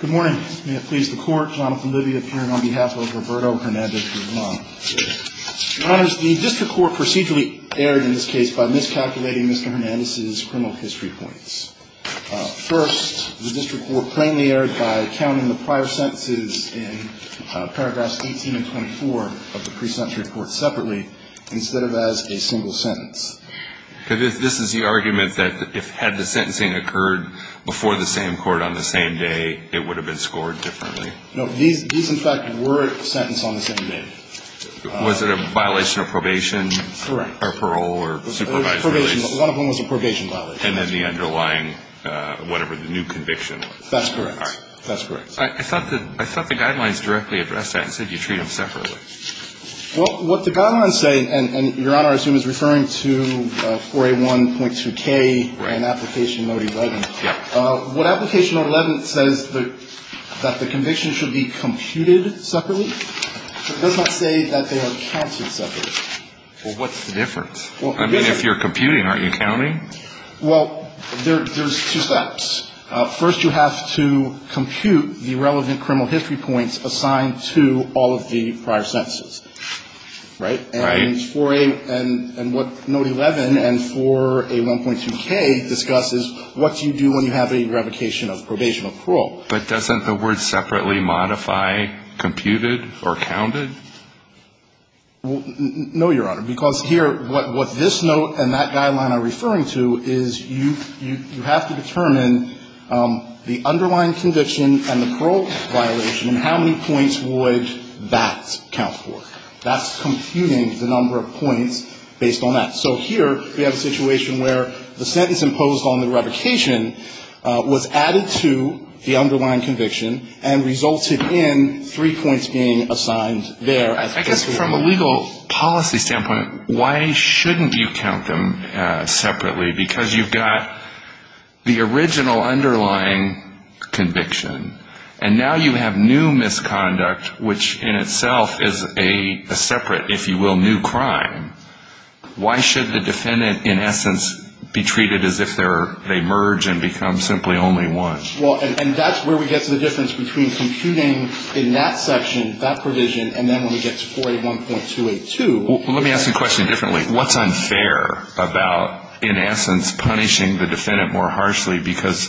Good morning. May it please the Court, Jonathan Libby appearing on behalf of Roberto Hernandez Guzman. Your Honors, the District Court procedurally erred in this case by miscalculating Mr. Hernandez's criminal history points. First, the District Court plainly erred by counting the prior sentences in paragraphs 18 and 24 of the pre-sentence report separately instead of as a single sentence. This is the argument that if had the sentencing occurred before the same court on the same day, it would have been scored differently? No. These, in fact, were sentenced on the same day. Was it a violation of probation? Correct. Or parole or supervised release? One of them was a probation violation. And then the underlying, whatever, the new conviction? That's correct. All right. That's correct. I thought the guidelines directly addressed that and said you treat them separately. Well, what the guidelines say, and Your Honor, I assume, is referring to 4A1.2K and Application Note 11. Yeah. What Application Note 11 says is that the convictions should be computed separately. It does not say that they are counted separately. Well, what's the difference? I mean, if you're computing, aren't you counting? Well, there's two steps. First, you have to compute the relevant criminal history points assigned to all of the prior sentences. Right? Right. And 4A and what Note 11 and 4A1.2K discuss is what you do when you have a revocation of probation or parole. But doesn't the word separately modify computed or counted? Well, no, Your Honor, because here what this note and that guideline are referring to is you have to determine the underlying conviction and the parole violation and how many points would that count for. That's computing the number of points based on that. So here we have a situation where the sentence imposed on the revocation was added to the underlying conviction and resulted in three points being assigned there. I guess from a legal policy standpoint, why shouldn't you count them separately? Because you've got the original underlying conviction, and now you have new misconduct, which in itself is a separate, if you will, new crime. Why should the defendant, in essence, be treated as if they merge and become simply only one? Well, and that's where we get to the difference between computing in that section, that provision, and then when we get to 4A1.282. Well, let me ask the question differently. What's unfair about, in essence, punishing the defendant more harshly? Because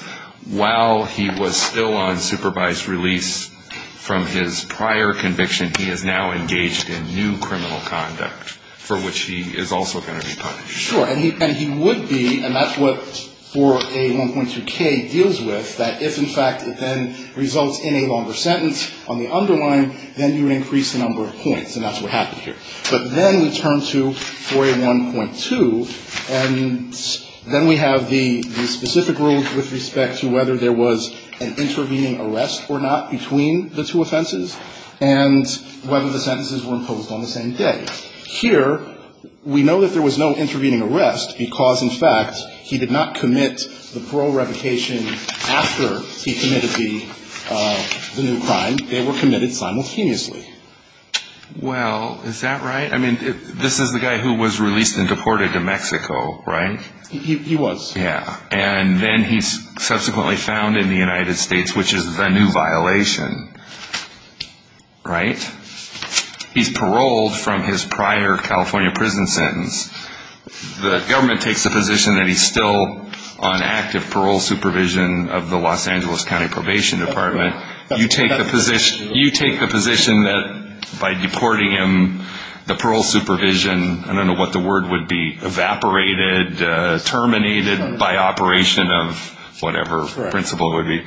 while he was still on supervised release from his prior conviction, he is now engaged in new criminal conduct for which he is also going to be punished. Sure. And he would be, and that's what 4A1.2k deals with, that if, in fact, it then results in a longer sentence on the underlying, then you would increase the number of points, and that's what happened here. But then we turn to 4A1.2, and then we have the specific rules with respect to whether there was an intervening arrest or not between the two offenses. And whether the sentences were imposed on the same day. Here, we know that there was no intervening arrest because, in fact, he did not commit the parole replication after he committed the new crime. They were committed simultaneously. Well, is that right? I mean, this is the guy who was released and deported to Mexico, right? He was. Yeah. And then he's subsequently found in the United States, which is a new violation. Right? He's paroled from his prior California prison sentence. The government takes the position that he's still on active parole supervision of the Los Angeles County Probation Department. You take the position that by deporting him, the parole supervision, I don't know what the word would be, evaporated, terminated by operation of whatever principle it would be.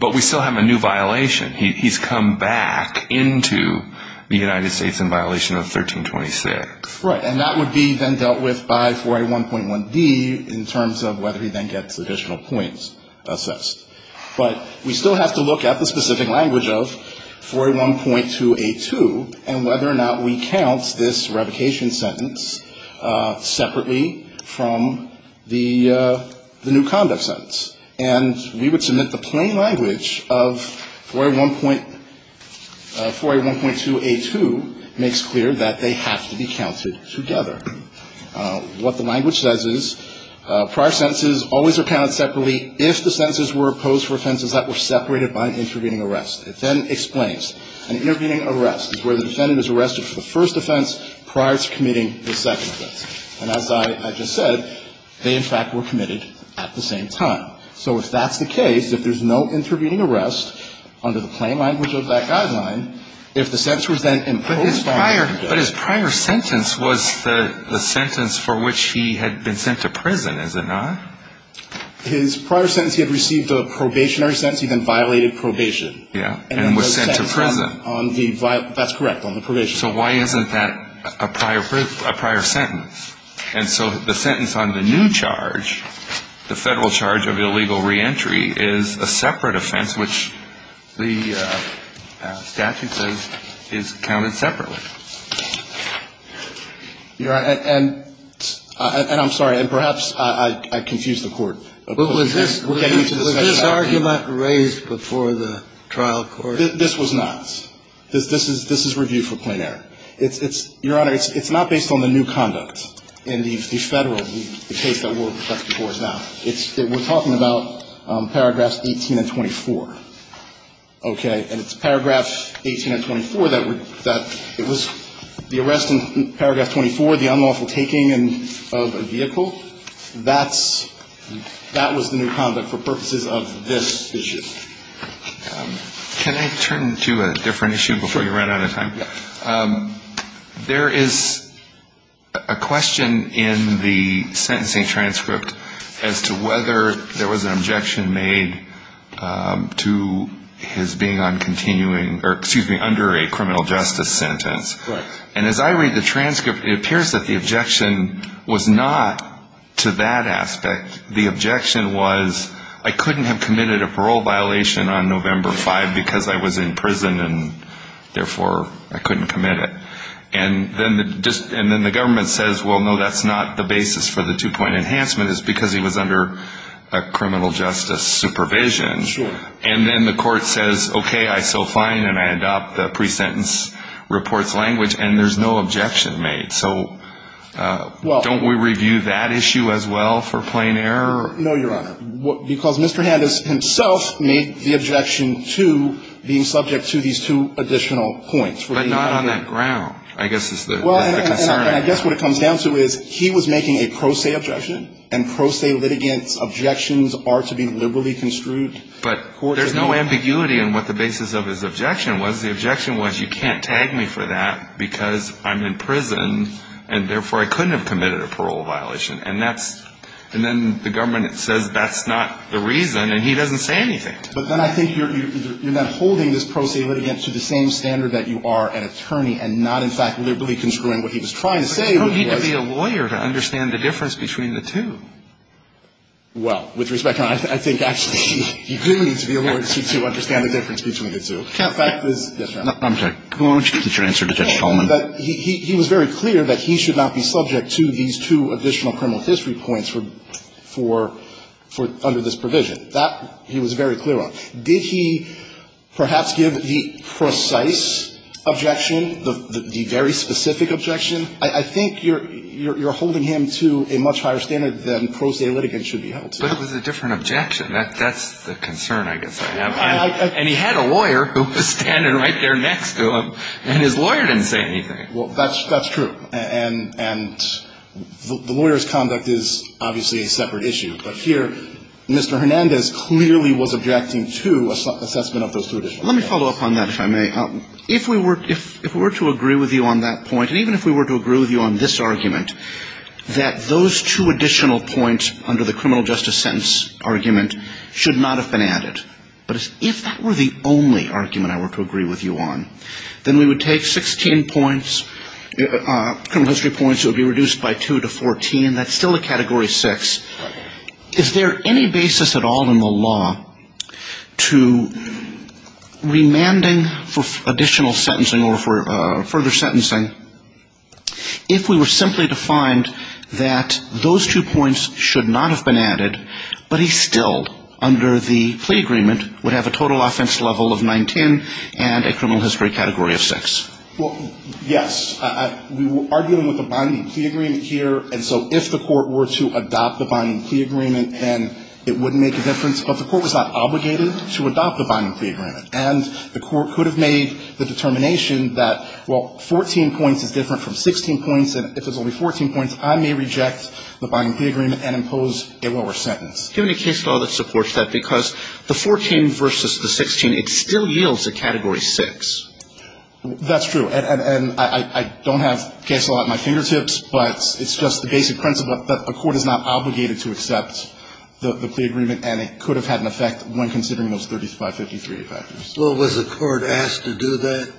But we still have a new violation. He's come back into the United States in violation of 1326. Right. And that would be then dealt with by 4A1.1D in terms of whether he then gets additional points assessed. But we still have to look at the specific language of 4A1.2A2 and whether or not we count this replication sentence separately from the new conduct sentence. And we would submit the plain language of 4A1.2A2 makes clear that they have to be counted together. What the language says is prior sentences always are counted separately if the sentences were posed for offenses that were separated by an intervening arrest. It then explains. An intervening arrest is where the defendant is arrested for the first offense prior to committing the second offense. And as I just said, they, in fact, were committed at the same time. So if that's the case, if there's no intervening arrest under the plain language of that guideline, if the sentence was then imposed on the defendant. But his prior sentence was the sentence for which he had been sent to prison, is it not? His prior sentence, he had received a probationary sentence. He then violated probation. Yeah. And was sent to prison. That's correct, on the probation. So why isn't that a prior sentence? And so the sentence on the new charge, the Federal charge of illegal reentry, is a separate offense, which the statute says is counted separately. Your Honor, and I'm sorry, and perhaps I confused the Court. Was this argument raised before the trial court? This was not. This is review for plain error. Your Honor, it's not based on the new conduct in the Federal case that we're reflecting towards now. We're talking about paragraphs 18 and 24. Okay? And it's paragraph 18 and 24 that it was the arrest in paragraph 24, the unlawful taking of a vehicle, that was the new conduct for purposes of this issue. Can I turn to a different issue before you run out of time? There is a question in the sentencing transcript as to whether there was an objection made to his being on continuing, or excuse me, under a criminal justice sentence. Correct. And as I read the transcript, it appears that the objection was not to that aspect. The objection was I couldn't have committed a parole violation on November 5 because I was in prison, and therefore I couldn't commit it. And then the government says, well, no, that's not the basis for the two-point enhancement. It's because he was under a criminal justice supervision. Sure. And then the Court says, okay, I saw fine, and I adopt the pre-sentence report's language, and there's no objection made. So don't we review that issue as well for plain error? No, Your Honor. Because Mr. Handis himself made the objection to being subject to these two additional points. But not on that ground, I guess is the concern. Well, and I guess what it comes down to is he was making a pro se objection, and pro se litigants' objections are to be liberally construed. But there's no ambiguity in what the basis of his objection was. The objection was you can't tag me for that because I'm in prison, and therefore I couldn't have committed a parole violation. And then the government says that's not the reason, and he doesn't say anything. But then I think you're not holding this pro se litigant to the same standard that you are an attorney and not, in fact, liberally construing what he was trying to say. But you don't need to be a lawyer to understand the difference between the two. Well, with respect, I think actually you do need to be a lawyer to understand the difference between the two. The fact is that he was very clear that he should not be subject to these two additional criminal history points for under this provision. That he was very clear on. Did he perhaps give the precise objection, the very specific objection? I think you're holding him to a much higher standard than pro se litigants should be held to. But it was a different objection. That's the concern I guess I have. And he had a lawyer who was standing right there next to him, and his lawyer didn't say anything. Well, that's true. And the lawyer's conduct is obviously a separate issue. But here, Mr. Hernandez clearly was objecting to assessment of those two additional points. Let me follow up on that, if I may. If we were to agree with you on that point, and even if we were to agree with you on this argument, that those two additional points under the criminal justice sentence argument should not have been added. But if that were the only argument I were to agree with you on, then we would take 16 points, criminal history points would be reduced by two to 14. That's still a Category 6. Is there any basis at all in the law to remanding for additional sentencing or for further sentencing if we were simply to find that those two points should not have been added, but he still, under the plea agreement, would have a total offense level of 19 and a criminal history category of 6? Well, yes. We were arguing with the binding plea agreement here. And so if the court were to adopt the binding plea agreement, then it wouldn't make a difference. But the court was not obligated to adopt the binding plea agreement. And the court could have made the determination that, well, 14 points is different from 16 points. And if it's only 14 points, I may reject the binding plea agreement and impose a lower sentence. Give me a case law that supports that, because the 14 versus the 16, it still yields a Category 6. That's true. And I don't have a case law at my fingertips, but it's just the basic principle that a court is not obligated to accept the plea agreement. And it could have had an effect when considering those 3553 factors. Well, was the court asked to do that?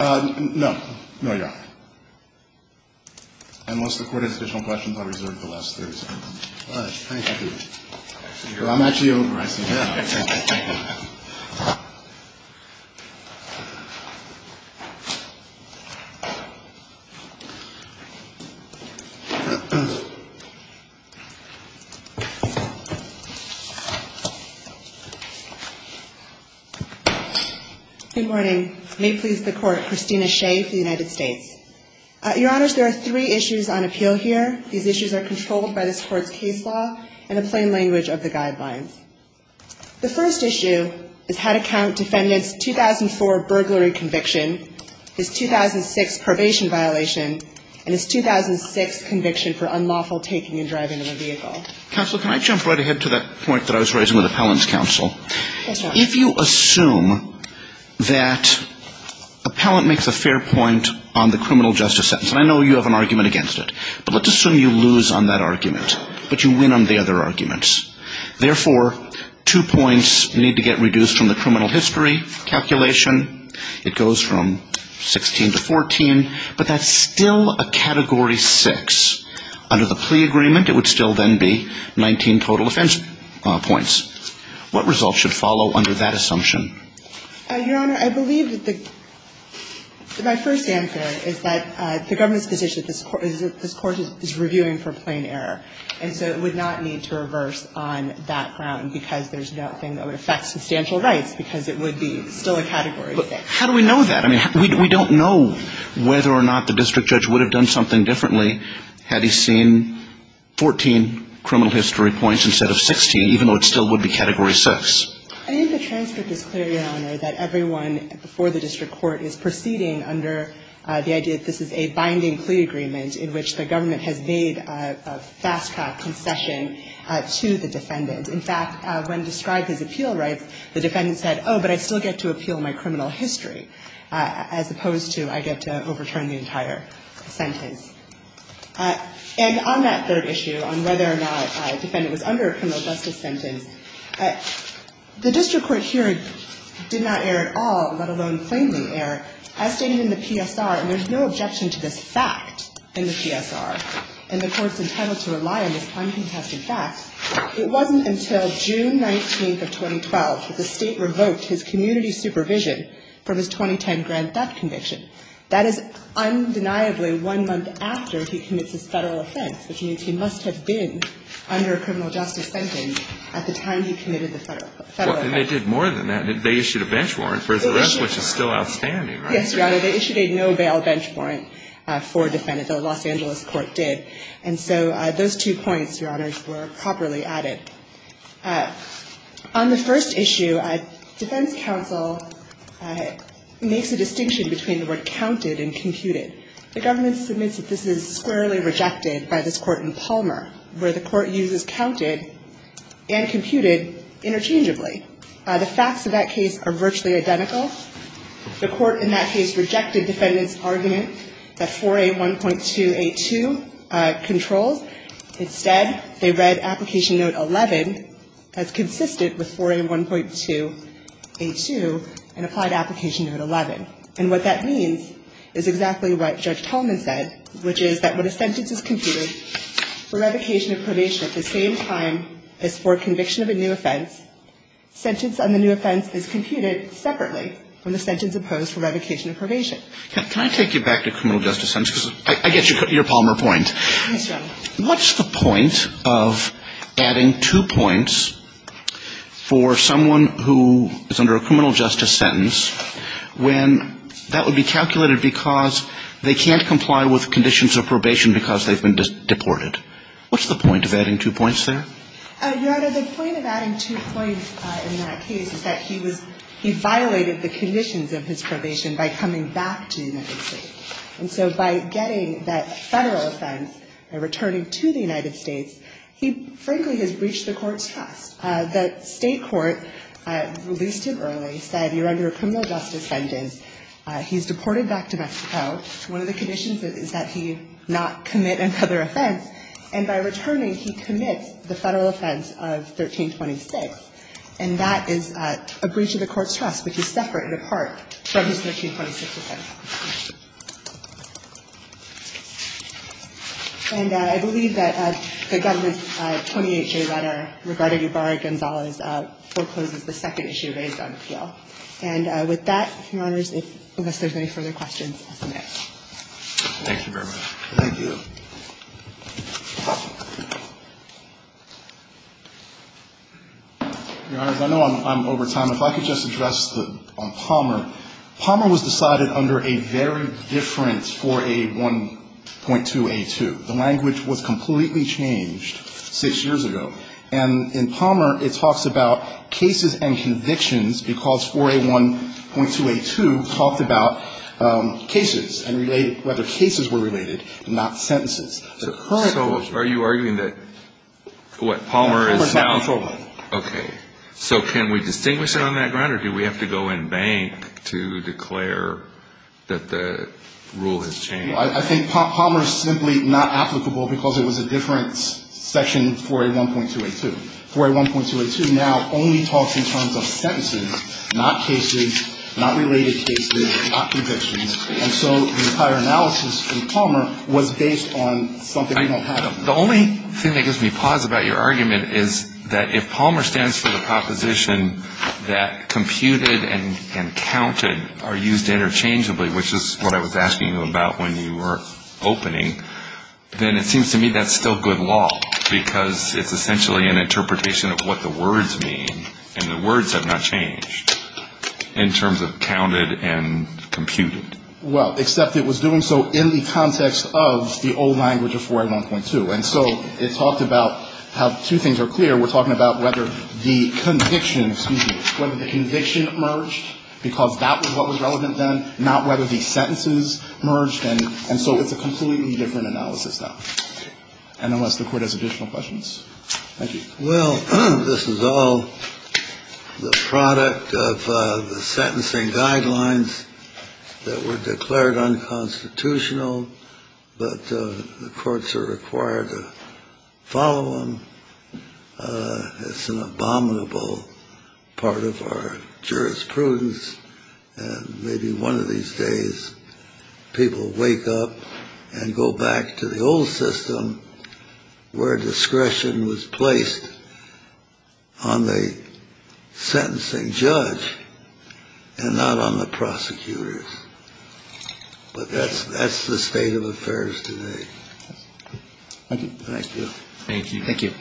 No. No, Your Honor. Unless the court has additional questions, I'll reserve the last 30 seconds. All right. Thank you. I'm actually over. I see. Thank you. Good morning. May it please the Court. Christina Shea for the United States. Your Honors, there are three issues on appeal here. These issues are controlled by this Court's case law and the plain language of the guidelines. The first issue is how to count defendant's 2004 burglary conviction, his 2006 probation violation, and his 2006 conviction for unlawful taking and driving of a vehicle. Counsel, can I jump right ahead to that point that I was raising with appellant's counsel? Yes, Your Honor. If you assume that appellant makes a fair point on the criminal justice sentence, and I know you have an argument against it, but let's assume you lose on that argument, but you win on the other arguments. Therefore, two points need to get reduced from the criminal history calculation. It goes from 16 to 14, but that's still a Category 6. Under the plea agreement, it would still then be 19 total offense points. What results should follow under that assumption? Your Honor, I believe that the my first answer is that the government's position is that this Court is reviewing for plain error, and so it would not need to reverse on that ground because there's nothing that would affect substantial rights because it would be still a Category 6. But how do we know that? I mean, we don't know whether or not the district judge would have done something differently had he seen 14 criminal history points instead of 16, even though it still would be Category 6. I think the transcript is clear, Your Honor, that everyone before the district court is proceeding under the idea that this is a binding plea agreement in which the government has made a fast-track concession to the defendant. In fact, when described as appeal rights, the defendant said, oh, but I still get to appeal my criminal history, as opposed to I get to overturn the entire sentence. And on that third issue, on whether or not a defendant was under a criminal justice sentence, the district court here did not err at all, let alone plainly err. As stated in the PSR, and there's no objection to this fact in the PSR, and the Court's entitled to rely on this uncontested fact, it wasn't until June 19th of 2012 that the State revoked his community supervision from his 2010 grand theft conviction. That is undeniably one month after he commits his Federal offense, which means he must have been under a criminal justice sentence at the time he committed the Federal offense. And they did more than that. They issued a bench warrant for the rest, which is still outstanding, right? Yes, Your Honor. They issued a no-bail bench warrant for a defendant, though Los Angeles Court did. And so those two points, Your Honor, were properly added. On the first issue, defense counsel makes a distinction between the word counted and computed. The government submits that this is squarely rejected by this Court in Palmer, where the Court uses counted and computed interchangeably. The facts of that case are virtually identical. The Court in that case rejected defendant's argument that 4A1.282 controls. Instead, they read Application Note 11 as consistent with 4A1.282 and applied Application Note 11. And what that means is exactly what Judge Tolman said, which is that when a sentence is computed for revocation of probation at the same time as for conviction of a new offense, sentence on the new offense is computed separately from the sentence opposed for revocation of probation. Can I take you back to criminal justice sentences? I get your Palmer point. Yes, Your Honor. What's the point of adding two points for someone who is under a criminal justice sentence when that would be calculated because they can't comply with conditions of probation because they've been deported? What's the point of adding two points there? Your Honor, the point of adding two points in that case is that he was he violated the conditions of his probation by coming back to the United States. And so by getting that Federal offense and returning to the United States, he frankly has breached the Court's trust. The State court released him early, said you're under a criminal justice sentence. He's deported back to Mexico. One of the conditions is that he not commit another offense. And by returning, he commits the Federal offense of 1326. And that is a breach of the Court's trust, which is separate and apart from his 1326 offense. And I believe that the Governor's 28-J letter regarding Ybarra-Gonzalez forecloses the second issue raised on appeal. And with that, Your Honors, unless there's any further questions, I'll submit. Thank you very much. Thank you. Your Honors, I know I'm over time. If I could just address Palmer. Palmer was decided under a very different 4A1.2A2. The language was completely changed six years ago. And in Palmer, it talks about cases and convictions because 4A1.2A2 talked about cases and whether cases were related, not sentences. So are you arguing that what Palmer is now? Palmer is not controllable. Okay. So can we distinguish it on that ground, or do we have to go in bank to declare that the rule has changed? I think Palmer is simply not applicable because it was a different section, 4A1.2A2. 4A1.2A2 now only talks in terms of sentences, not cases, not related cases, not convictions. And so the entire analysis in Palmer was based on something we don't have. The only thing that gives me pause about your argument is that if Palmer stands for the proposition that computed and counted are used interchangeably, which is what I was asking you about when you were opening, then it seems to me that's still good law because it's essentially an interpretation of what the words mean, and the words have not changed in terms of counted and computed. Well, except it was doing so in the context of the old language of 4A1.2. And so it talked about how two things are clear. We're talking about whether the conviction, excuse me, whether the conviction merged because that was what was relevant then, not whether the sentences merged. And so it's a completely different analysis now. And unless the Court has additional questions. Thank you. Well, this is all the product of the sentencing guidelines that were declared unconstitutional. But the courts are required to follow them. It's an abominable part of our jurisprudence. And maybe one of these days people will wake up and go back to the old system where discretion was placed on the sentencing judge and not on the prosecutors. But that's the state of affairs today. Thank you. Thank you. Thank you.